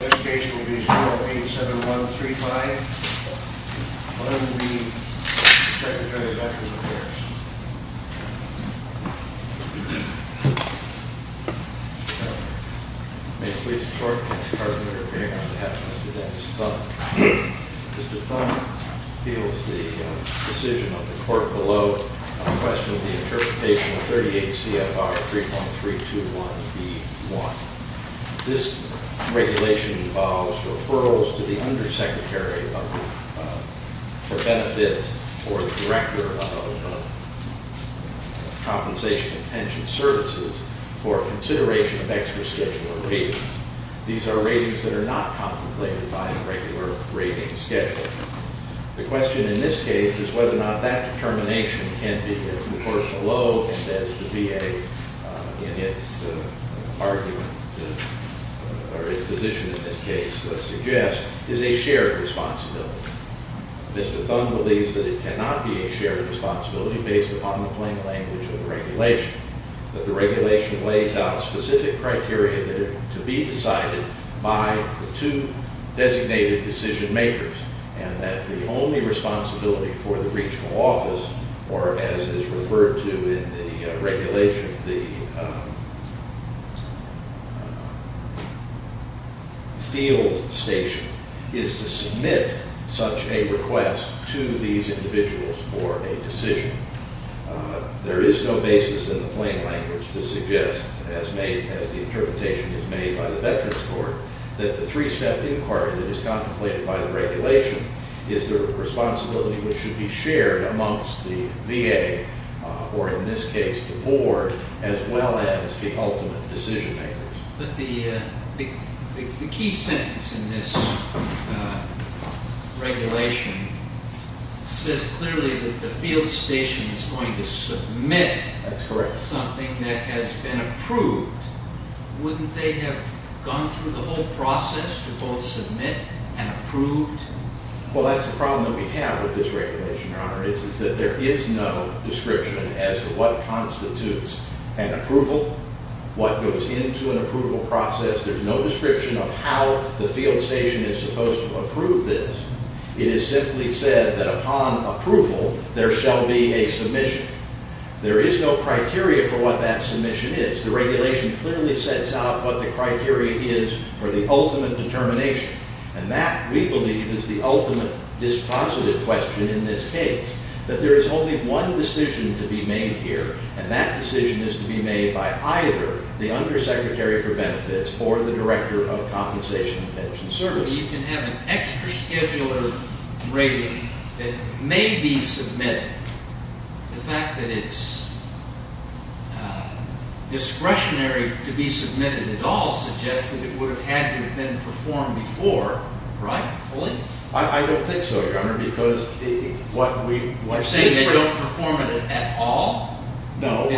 The next case will be 087135, on the Secretary of Veterans Affairs. May it please the court, on behalf of Mr. Dennis Thun. Mr. Thun appeals the decision of the court below, a question of the interpretation of 38 CFR 31321B1. This regulation involves referrals to the undersecretary for benefits, or the director of compensation and pension services, for consideration of extra-schedular ratings. These are ratings that are not contemplated by a regular rating schedule. The question in this case is whether or not that determination can be, as the court below, as the VA in its argument, or its position in this case, suggests, is a shared responsibility. Mr. Thun believes that it cannot be a shared responsibility based upon the plain language of the regulation, that the regulation lays out specific criteria that are to be decided by the two designated decision makers, and that the only responsibility for the regional office, or as is referred to in the regulation, the field station, is to submit such a request to these individuals for a decision. There is no basis in the plain language to suggest, as the interpretation is made by the Veterans Court, that the three-step inquiry that is contemplated by the regulation is the responsibility which should be shared amongst the VA, or in this case, the board, as well as the ultimate decision makers. But the key sentence in this regulation says clearly that the field station is going to submit- That's correct. something that has been approved. Wouldn't they have gone through the whole process to both submit and approve? Well, that's the problem that we have with this regulation, Your Honor, is that there is no description as to what constitutes an approval, what goes into an approval process. There's no description of how the field station is supposed to approve this. It is simply said that upon approval, there shall be a submission. There is no criteria for what that submission is. The regulation clearly sets out what the criteria is for the ultimate determination, and that, we believe, is the ultimate dispositive question in this case, that there is only one decision to be made here, and that decision is to be made by either the Undersecretary for Benefits or the Director of Compensation and Pension Services. So you can have an extra scheduler rating that may be submitted. The fact that it's discretionary to be submitted at all suggests that it would have had to have been performed before, right? Fully. I don't think so, Your Honor, because what we- You're saying they don't perform at all? No.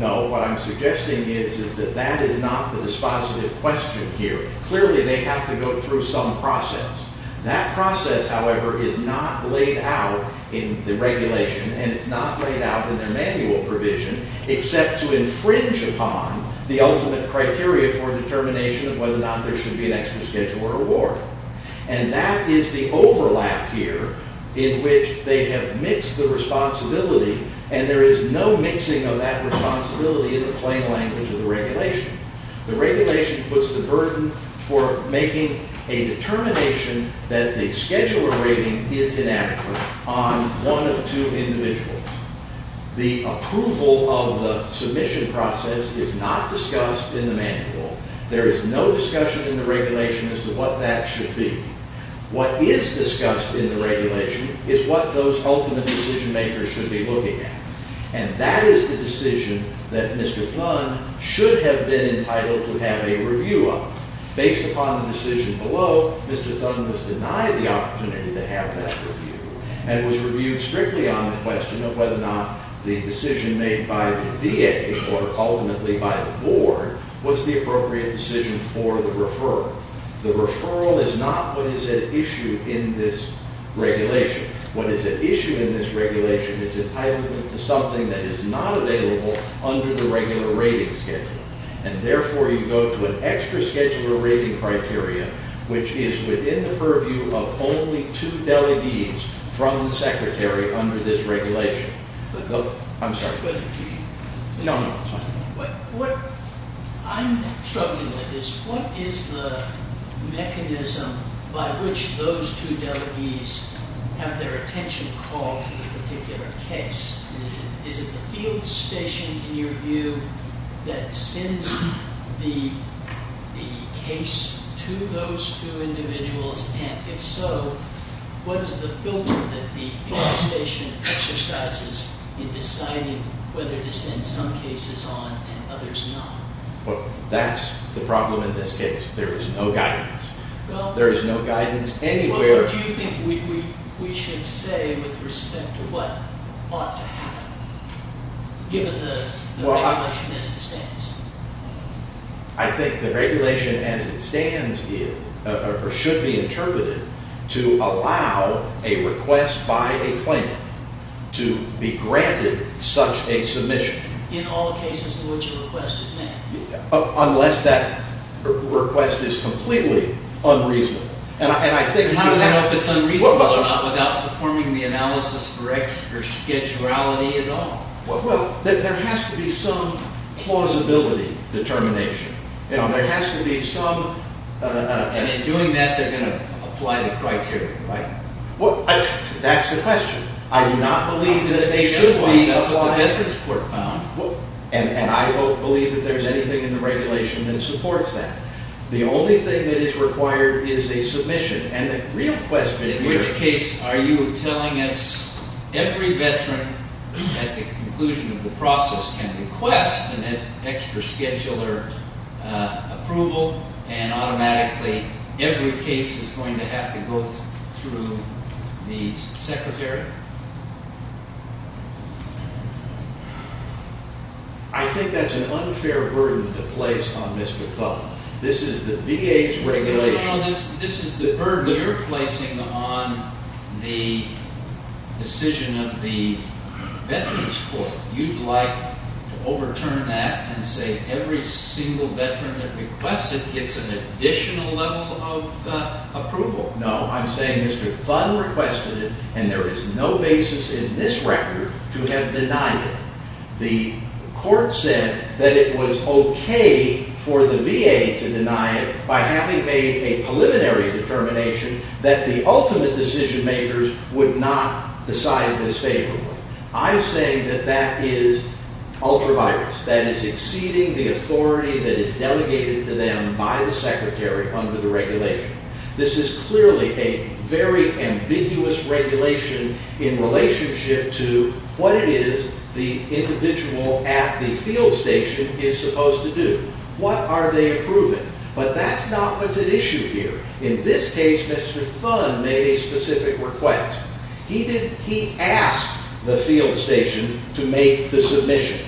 No. What I'm suggesting is that that is not the dispositive question here. Clearly, they have to go through some process. That process, however, is not laid out in the regulation, and it's not laid out in their manual provision, except to infringe upon the ultimate criteria for determination of whether or not there should be an extra scheduler award. And that is the overlap here in which they have mixed the responsibility, and there is no mixing of that responsibility in the plain language of the regulation. The regulation puts the burden for making a determination that the scheduler rating is inadequate on one of two individuals. The approval of the submission process is not discussed in the manual. There is no discussion in the regulation as to what that should be. What is discussed in the regulation is what those ultimate decision-makers should be looking at, and that is the decision that Mr. Thun should have been entitled to have a review of. Based upon the decision below, Mr. Thun was denied the opportunity to have that review and was reviewed strictly on the question of whether or not the decision made by the VA or ultimately by the board was the appropriate decision for the referral. The referral is not what is at issue in this regulation. What is at issue in this regulation is entitlement to something that is not available under the regular rating schedule. And therefore, you go to an extra scheduler rating criteria, which is within the purview of only two delegates from the secretary under this regulation. I'm sorry. No, no. I'm struggling with this. What is the mechanism by which those two delegates have their attention called to the particular case? Is it the field station, in your view, that sends the case to those two individuals? And if so, what is the filter that the field station exercises in deciding whether to send some cases on and others not? Well, that's the problem in this case. There is no guidance. There is no guidance anywhere. Well, what do you think we should say with respect to what ought to happen, given the regulation as it stands? I think the regulation as it stands should be interpreted to allow a request by a claimant to be granted such a submission. In all cases in which a request is made? Unless that request is completely unreasonable. I don't know if it's unreasonable or not without performing the analysis for extra schedulality at all. Well, there has to be some plausibility determination. There has to be some… And in doing that, they're going to apply the criteria, right? Well, that's the question. I do not believe that they should be applying… That's what the Veterans Court found. And I don't believe that there's anything in the regulation that supports that. The only thing that is required is a submission, and the real question here… …is that the conclusion of the process can request an extra scheduler approval, and automatically every case is going to have to go through the Secretary? I think that's an unfair burden to place on Mr. Thompson. This is the VA's regulation… …of the Veterans Court. You'd like to overturn that and say every single veteran that requests it gets an additional level of approval? No, I'm saying Mr. Thun requested it, and there is no basis in this record to have denied it. The court said that it was okay for the VA to deny it by having made a preliminary determination that the ultimate decision-makers would not decide this favorably. I'm saying that that is ultra-virus. That is exceeding the authority that is delegated to them by the Secretary under the regulation. This is clearly a very ambiguous regulation in relationship to what it is the individual at the field station is supposed to do. What are they approving? But that's not what's at issue here. In this case, Mr. Thun made a specific request. He asked the field station to make the submission.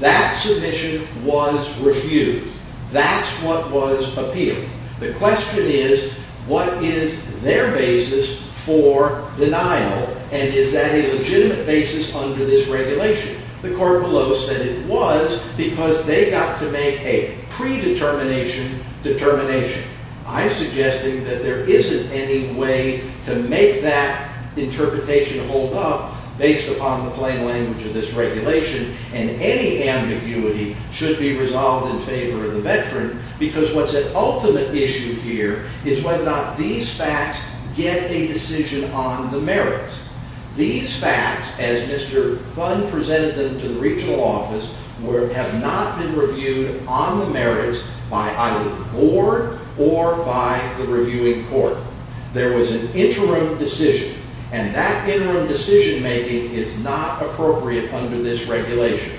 That submission was refused. That's what was appealed. The question is, what is their basis for denial, and is that a legitimate basis under this regulation? The court below said it was because they got to make a predetermination determination. I'm suggesting that there isn't any way to make that interpretation hold up based upon the plain language of this regulation, and any ambiguity should be resolved in favor of the veteran, because what's at ultimate issue here is whether or not these facts get a decision on the merits. These facts, as Mr. Thun presented them to the regional office, have not been reviewed on the merits by either the board or by the reviewing court. There was an interim decision, and that interim decision-making is not appropriate under this regulation.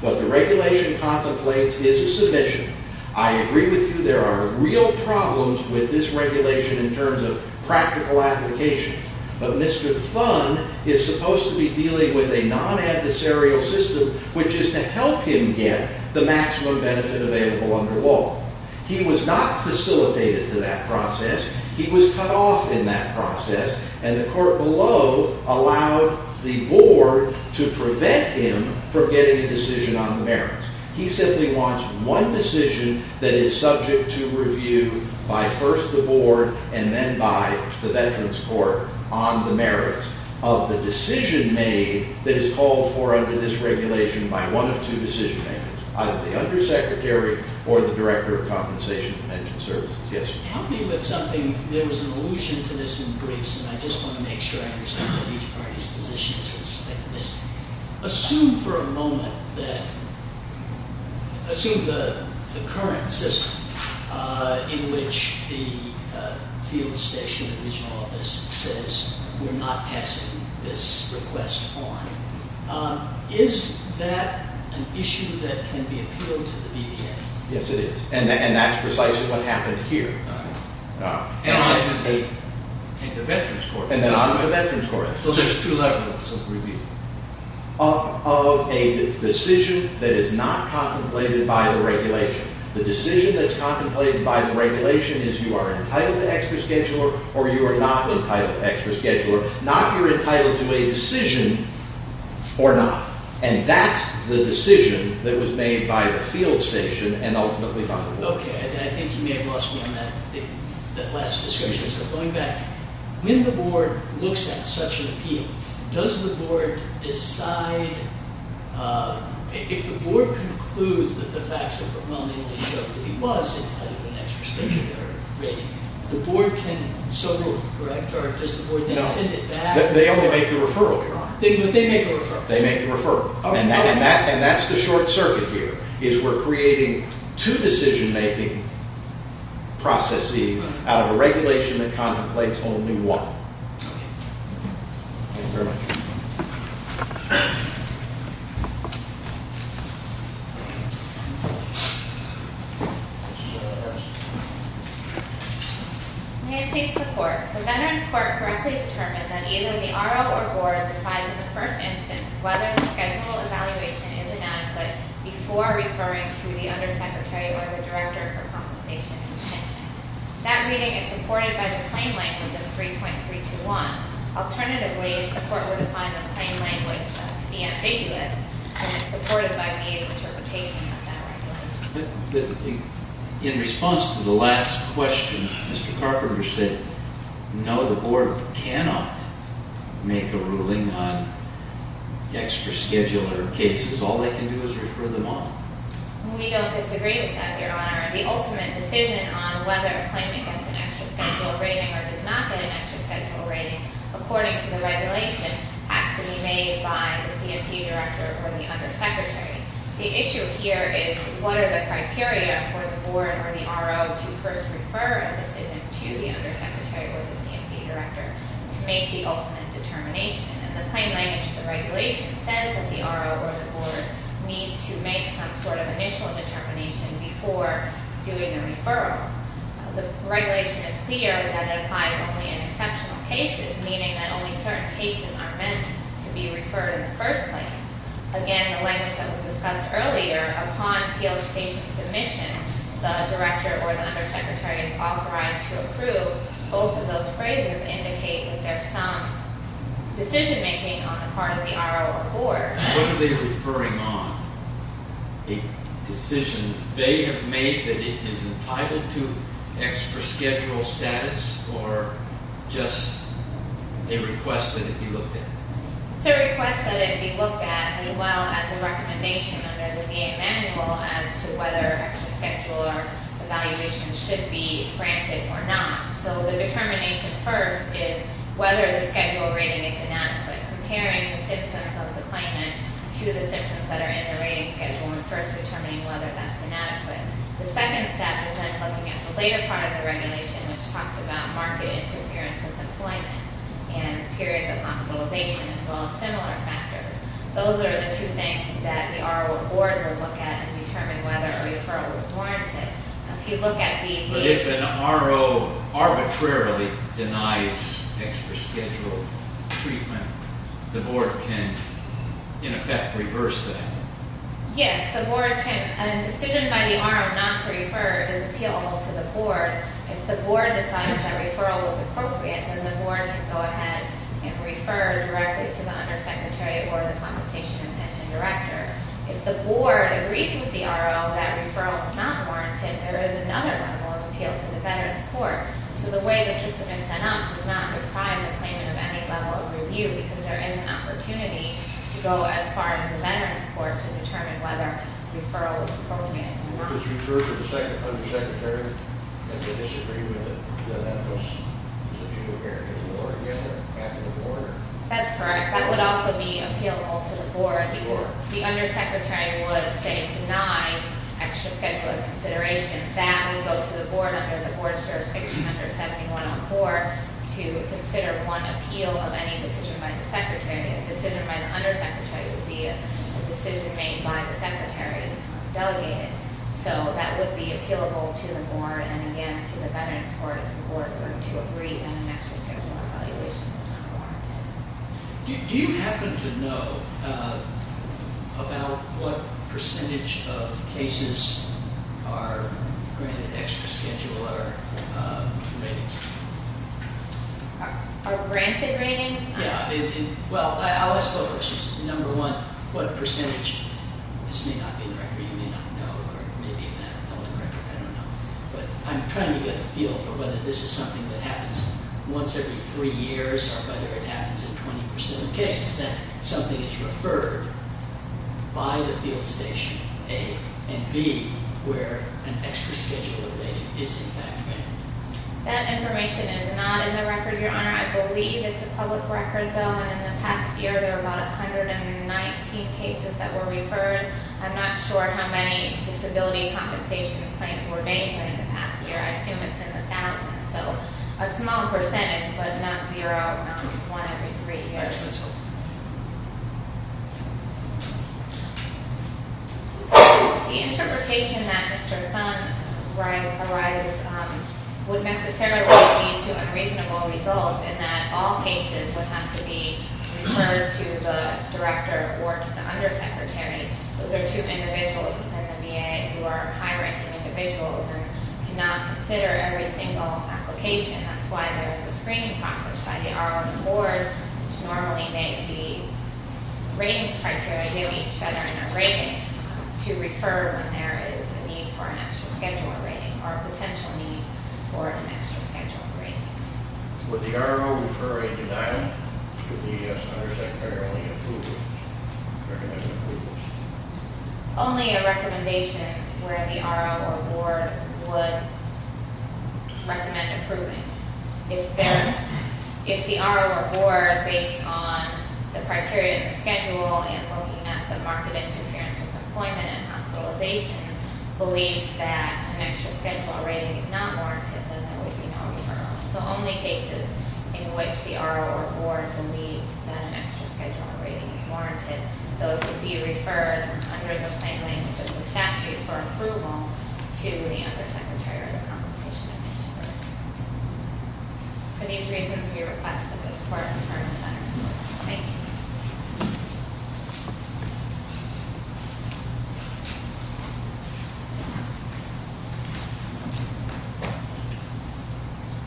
What the regulation contemplates is a submission. I agree with you there are real problems with this regulation in terms of practical application, but Mr. Thun is supposed to be dealing with a non-adversarial system, which is to help him get the maximum benefit available under law. He was not facilitated to that process. He was cut off in that process, and the court below allowed the board to prevent him from getting a decision on the merits. He simply wants one decision that is subject to review by first the board and then by the veterans court on the merits of the decision made that is called for under this regulation by one of two decision-makers, either the undersecretary or the director of compensation and pension services. Yes? Help me with something. There was an allusion to this in briefs, and I just want to make sure I understand each party's position with respect to this. Assume for a moment that – assume the current system in which the field station, the regional office, says we're not passing this request on. Is that an issue that can be appealed to the BDA? Yes, it is, and that's precisely what happened here. And the veterans court. And the veterans court. So there's two levels of review. Of a decision that is not contemplated by the regulation. The decision that's contemplated by the regulation is you are entitled to extra scheduler or you are not entitled to extra scheduler. Not if you're entitled to a decision or not, and that's the decision that was made by the field station and ultimately by the board. Okay. I think you may have lost me on that last discussion. So going back, when the board looks at such an appeal, does the board decide – if the board concludes that the facts overwhelmingly show that he was entitled to an extra scheduler rating, the board can settle, correct? Or does the board then send it back? No. They only make the referral, Your Honor. They make the referral. They make the referral. And that's the short circuit here, is we're creating two decision-making processes out of a regulation that contemplates only one. Okay. Thank you very much. May I please report? The Veterans Court correctly determined that either the RO or board decides in the first instance whether the schedulable evaluation is enough, but before referring to the undersecretary or the director for compensation and detention. That reading is supported by the claim language of 3.321. Alternatively, the court would find the claim language to be ambiguous, and it's supported by VA's interpretation of that regulation. In response to the last question, Mr. Carpenter said, no, the board cannot make a ruling on extra scheduler cases. All they can do is refer them on. We don't disagree with that, Your Honor. The ultimate decision on whether a claimant gets an extra scheduler rating or does not get an extra scheduler rating, according to the regulation, has to be made by the C&P director or the undersecretary. The issue here is what are the criteria for the board or the RO to first refer a decision to the undersecretary or the C&P director to make the ultimate determination? And the claim language of the regulation says that the RO or the board needs to make some sort of initial determination before doing a referral. The regulation is clear that it applies only in exceptional cases, meaning that only certain cases are meant to be referred in the first place. Again, the language that was discussed earlier, upon field station submission, the director or the undersecretary is authorized to approve. Both of those phrases indicate that there's some decision making on the part of the RO or board. What are they referring on? A decision they have made that it is entitled to extra schedule status or just a request that it be looked at? It's a request that it be looked at as well as a recommendation under the VA manual as to whether extra scheduler evaluations should be granted or not. So the determination first is whether the schedule rating is inadequate, comparing the symptoms of the claimant to the symptoms that are in the rating schedule and first determining whether that's inadequate. The second step is then looking at the later part of the regulation, which talks about market interference with employment and periods of hospitalization as well as similar factors. Those are the two things that the RO or board will look at and determine whether a referral is warranted. But if an RO arbitrarily denies extra schedule treatment, the board can, in effect, reverse that? Yes, the board can. A decision by the RO not to refer is appealable to the board. If the board decides that referral is appropriate, then the board can go ahead and refer directly to the undersecretary or the compensation and pension director. If the board agrees with the RO that referral is not warranted, there is another level of appeal to the veterans court. So the way the system is set up does not deprive the claimant of any level of review because there isn't an opportunity to go as far as the veterans court to determine whether a referral is appropriate or not. If it's referred to the undersecretary and they disagree with it, then that was a view of the board. That's correct. That would also be appealable to the board. The undersecretary would, say, deny extra schedule of consideration. That would go to the board under the board's jurisdiction under 71 on 4 to consider one appeal of any decision by the secretary. A decision by the undersecretary would be a decision made by the secretary delegated. So that would be appealable to the board and, again, to the veterans court if the board were to agree on an extra schedule of evaluation. Do you happen to know about what percentage of cases are granted extra schedule or ratings? Are granted ratings? Yeah. Well, I'll ask a couple of questions. Number one, what percentage? This may not be in the record. You may not know or maybe it may not be in the record. I don't know. But I'm trying to get a feel for whether this is something that happens once every three years or whether it happens in 20% of cases, that something is referred by the field station, A, and B, where an extra schedule of rating is in fact granted. That information is not in the record, Your Honor. I believe it's a public record, though, and in the past year there were about 119 cases that were referred. I'm not sure how many disability compensation claims were made during the past year. I assume it's in the thousands. So a small percentage, but not zero, not one every three years. The interpretation that Mr. Thumb arises would necessarily lead to unreasonable results in that all cases would have to be referred to the director or to the undersecretary. Those are two individuals within the VA who are high-ranking individuals and cannot consider every single application. That's why there is a screening process by the RO and the board, which normally make the ratings criteria due each other in their rating to refer when there is a need for an extra schedule of rating or a potential need for an extra schedule of rating. Would the RO refer a denial? Would the undersecretary only approve or recommend approvals? Only a recommendation where the RO or board would recommend approving. If the RO or board, based on the criteria in the schedule and looking at the market interference with employment and hospitalization, believes that an extra schedule of rating is not warranted, then that would be no referral. So only cases in which the RO or board believes that an extra schedule of rating is warranted, those would be referred under the plain language of the statute for approval to the undersecretary or the compensation administrator. For these reasons, we request that this court confirm the matters. Thank you.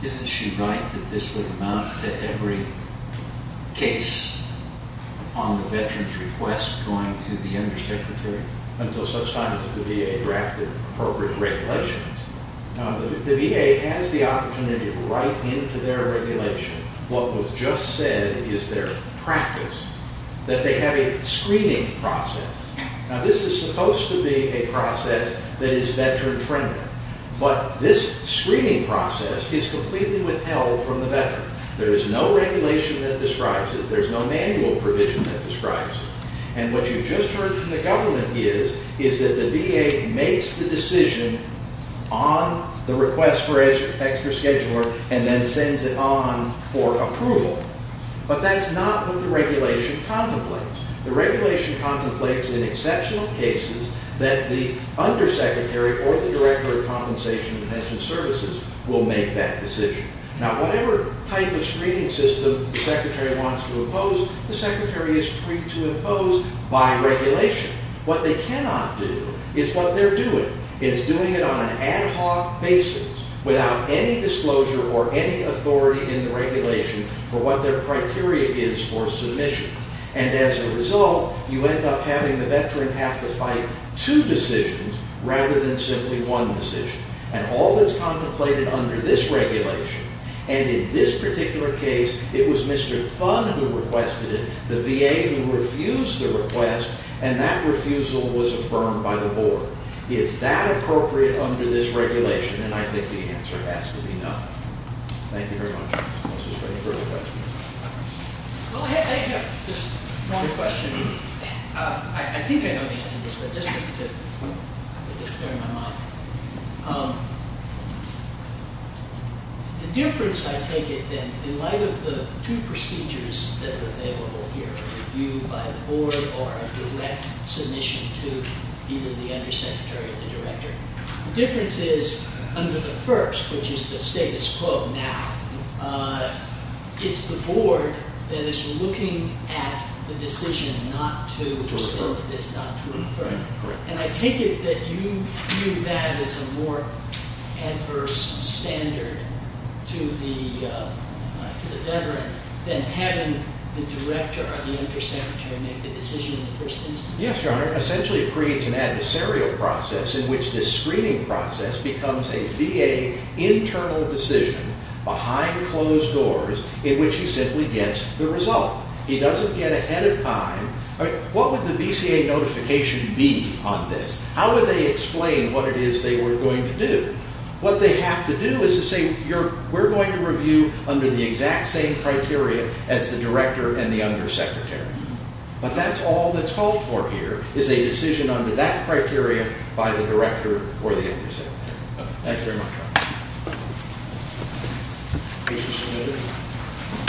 Isn't she right that this would amount to every case on the veteran's request going to the undersecretary? Until such time as the VA drafted appropriate regulations. The VA has the opportunity to write into their regulation what was just said that they have a screening process. Now, this is supposed to be a process that is veteran-friendly, but this screening process is completely withheld from the veteran. There is no regulation that describes it. There is no manual provision that describes it. And what you just heard from the government is that the VA makes the decision on the request for an extra schedule and then sends it on for approval. But that's not what the regulation contemplates. The regulation contemplates in exceptional cases that the undersecretary or the director of compensation and pension services will make that decision. Now, whatever type of screening system the secretary wants to impose, the secretary is free to impose by regulation. What they cannot do is what they're doing. It's doing it on an ad hoc basis without any disclosure or any authority in the regulation for what their criteria is for submission. And as a result, you end up having the veteran have to fight two decisions rather than simply one decision. And all that's contemplated under this regulation, and in this particular case, it was Mr. Thun who requested it, the VA who refused the request, and that refusal was affirmed by the board. Is that appropriate under this regulation? And I think the answer has to be no. Thank you very much. I was just waiting for a question. Well, I have just one question. I think I know the answer to this, but just to clear my mind. The difference, I take it, in light of the two procedures that are available here, you, by the board, are a direct submission to either the undersecretary or the director. The difference is, under the first, which is the status quo now, it's the board that is looking at the decision not to accept this, not to affirm it. Correct. And I take it that you view that as a more adverse standard to the veteran than having the director or the undersecretary make the decision in the first instance? Yes, Your Honor. Essentially, it creates an adversarial process in which this screening process becomes a VA internal decision behind closed doors in which he simply gets the result. He doesn't get ahead of time. What would the VCA notification be on this? How would they explain what it is they were going to do? What they have to do is to say, we're going to review under the exact same criteria as the director and the undersecretary. But that's all that's called for here is a decision under that criteria by the director or the undersecretary. Thank you very much, Your Honor.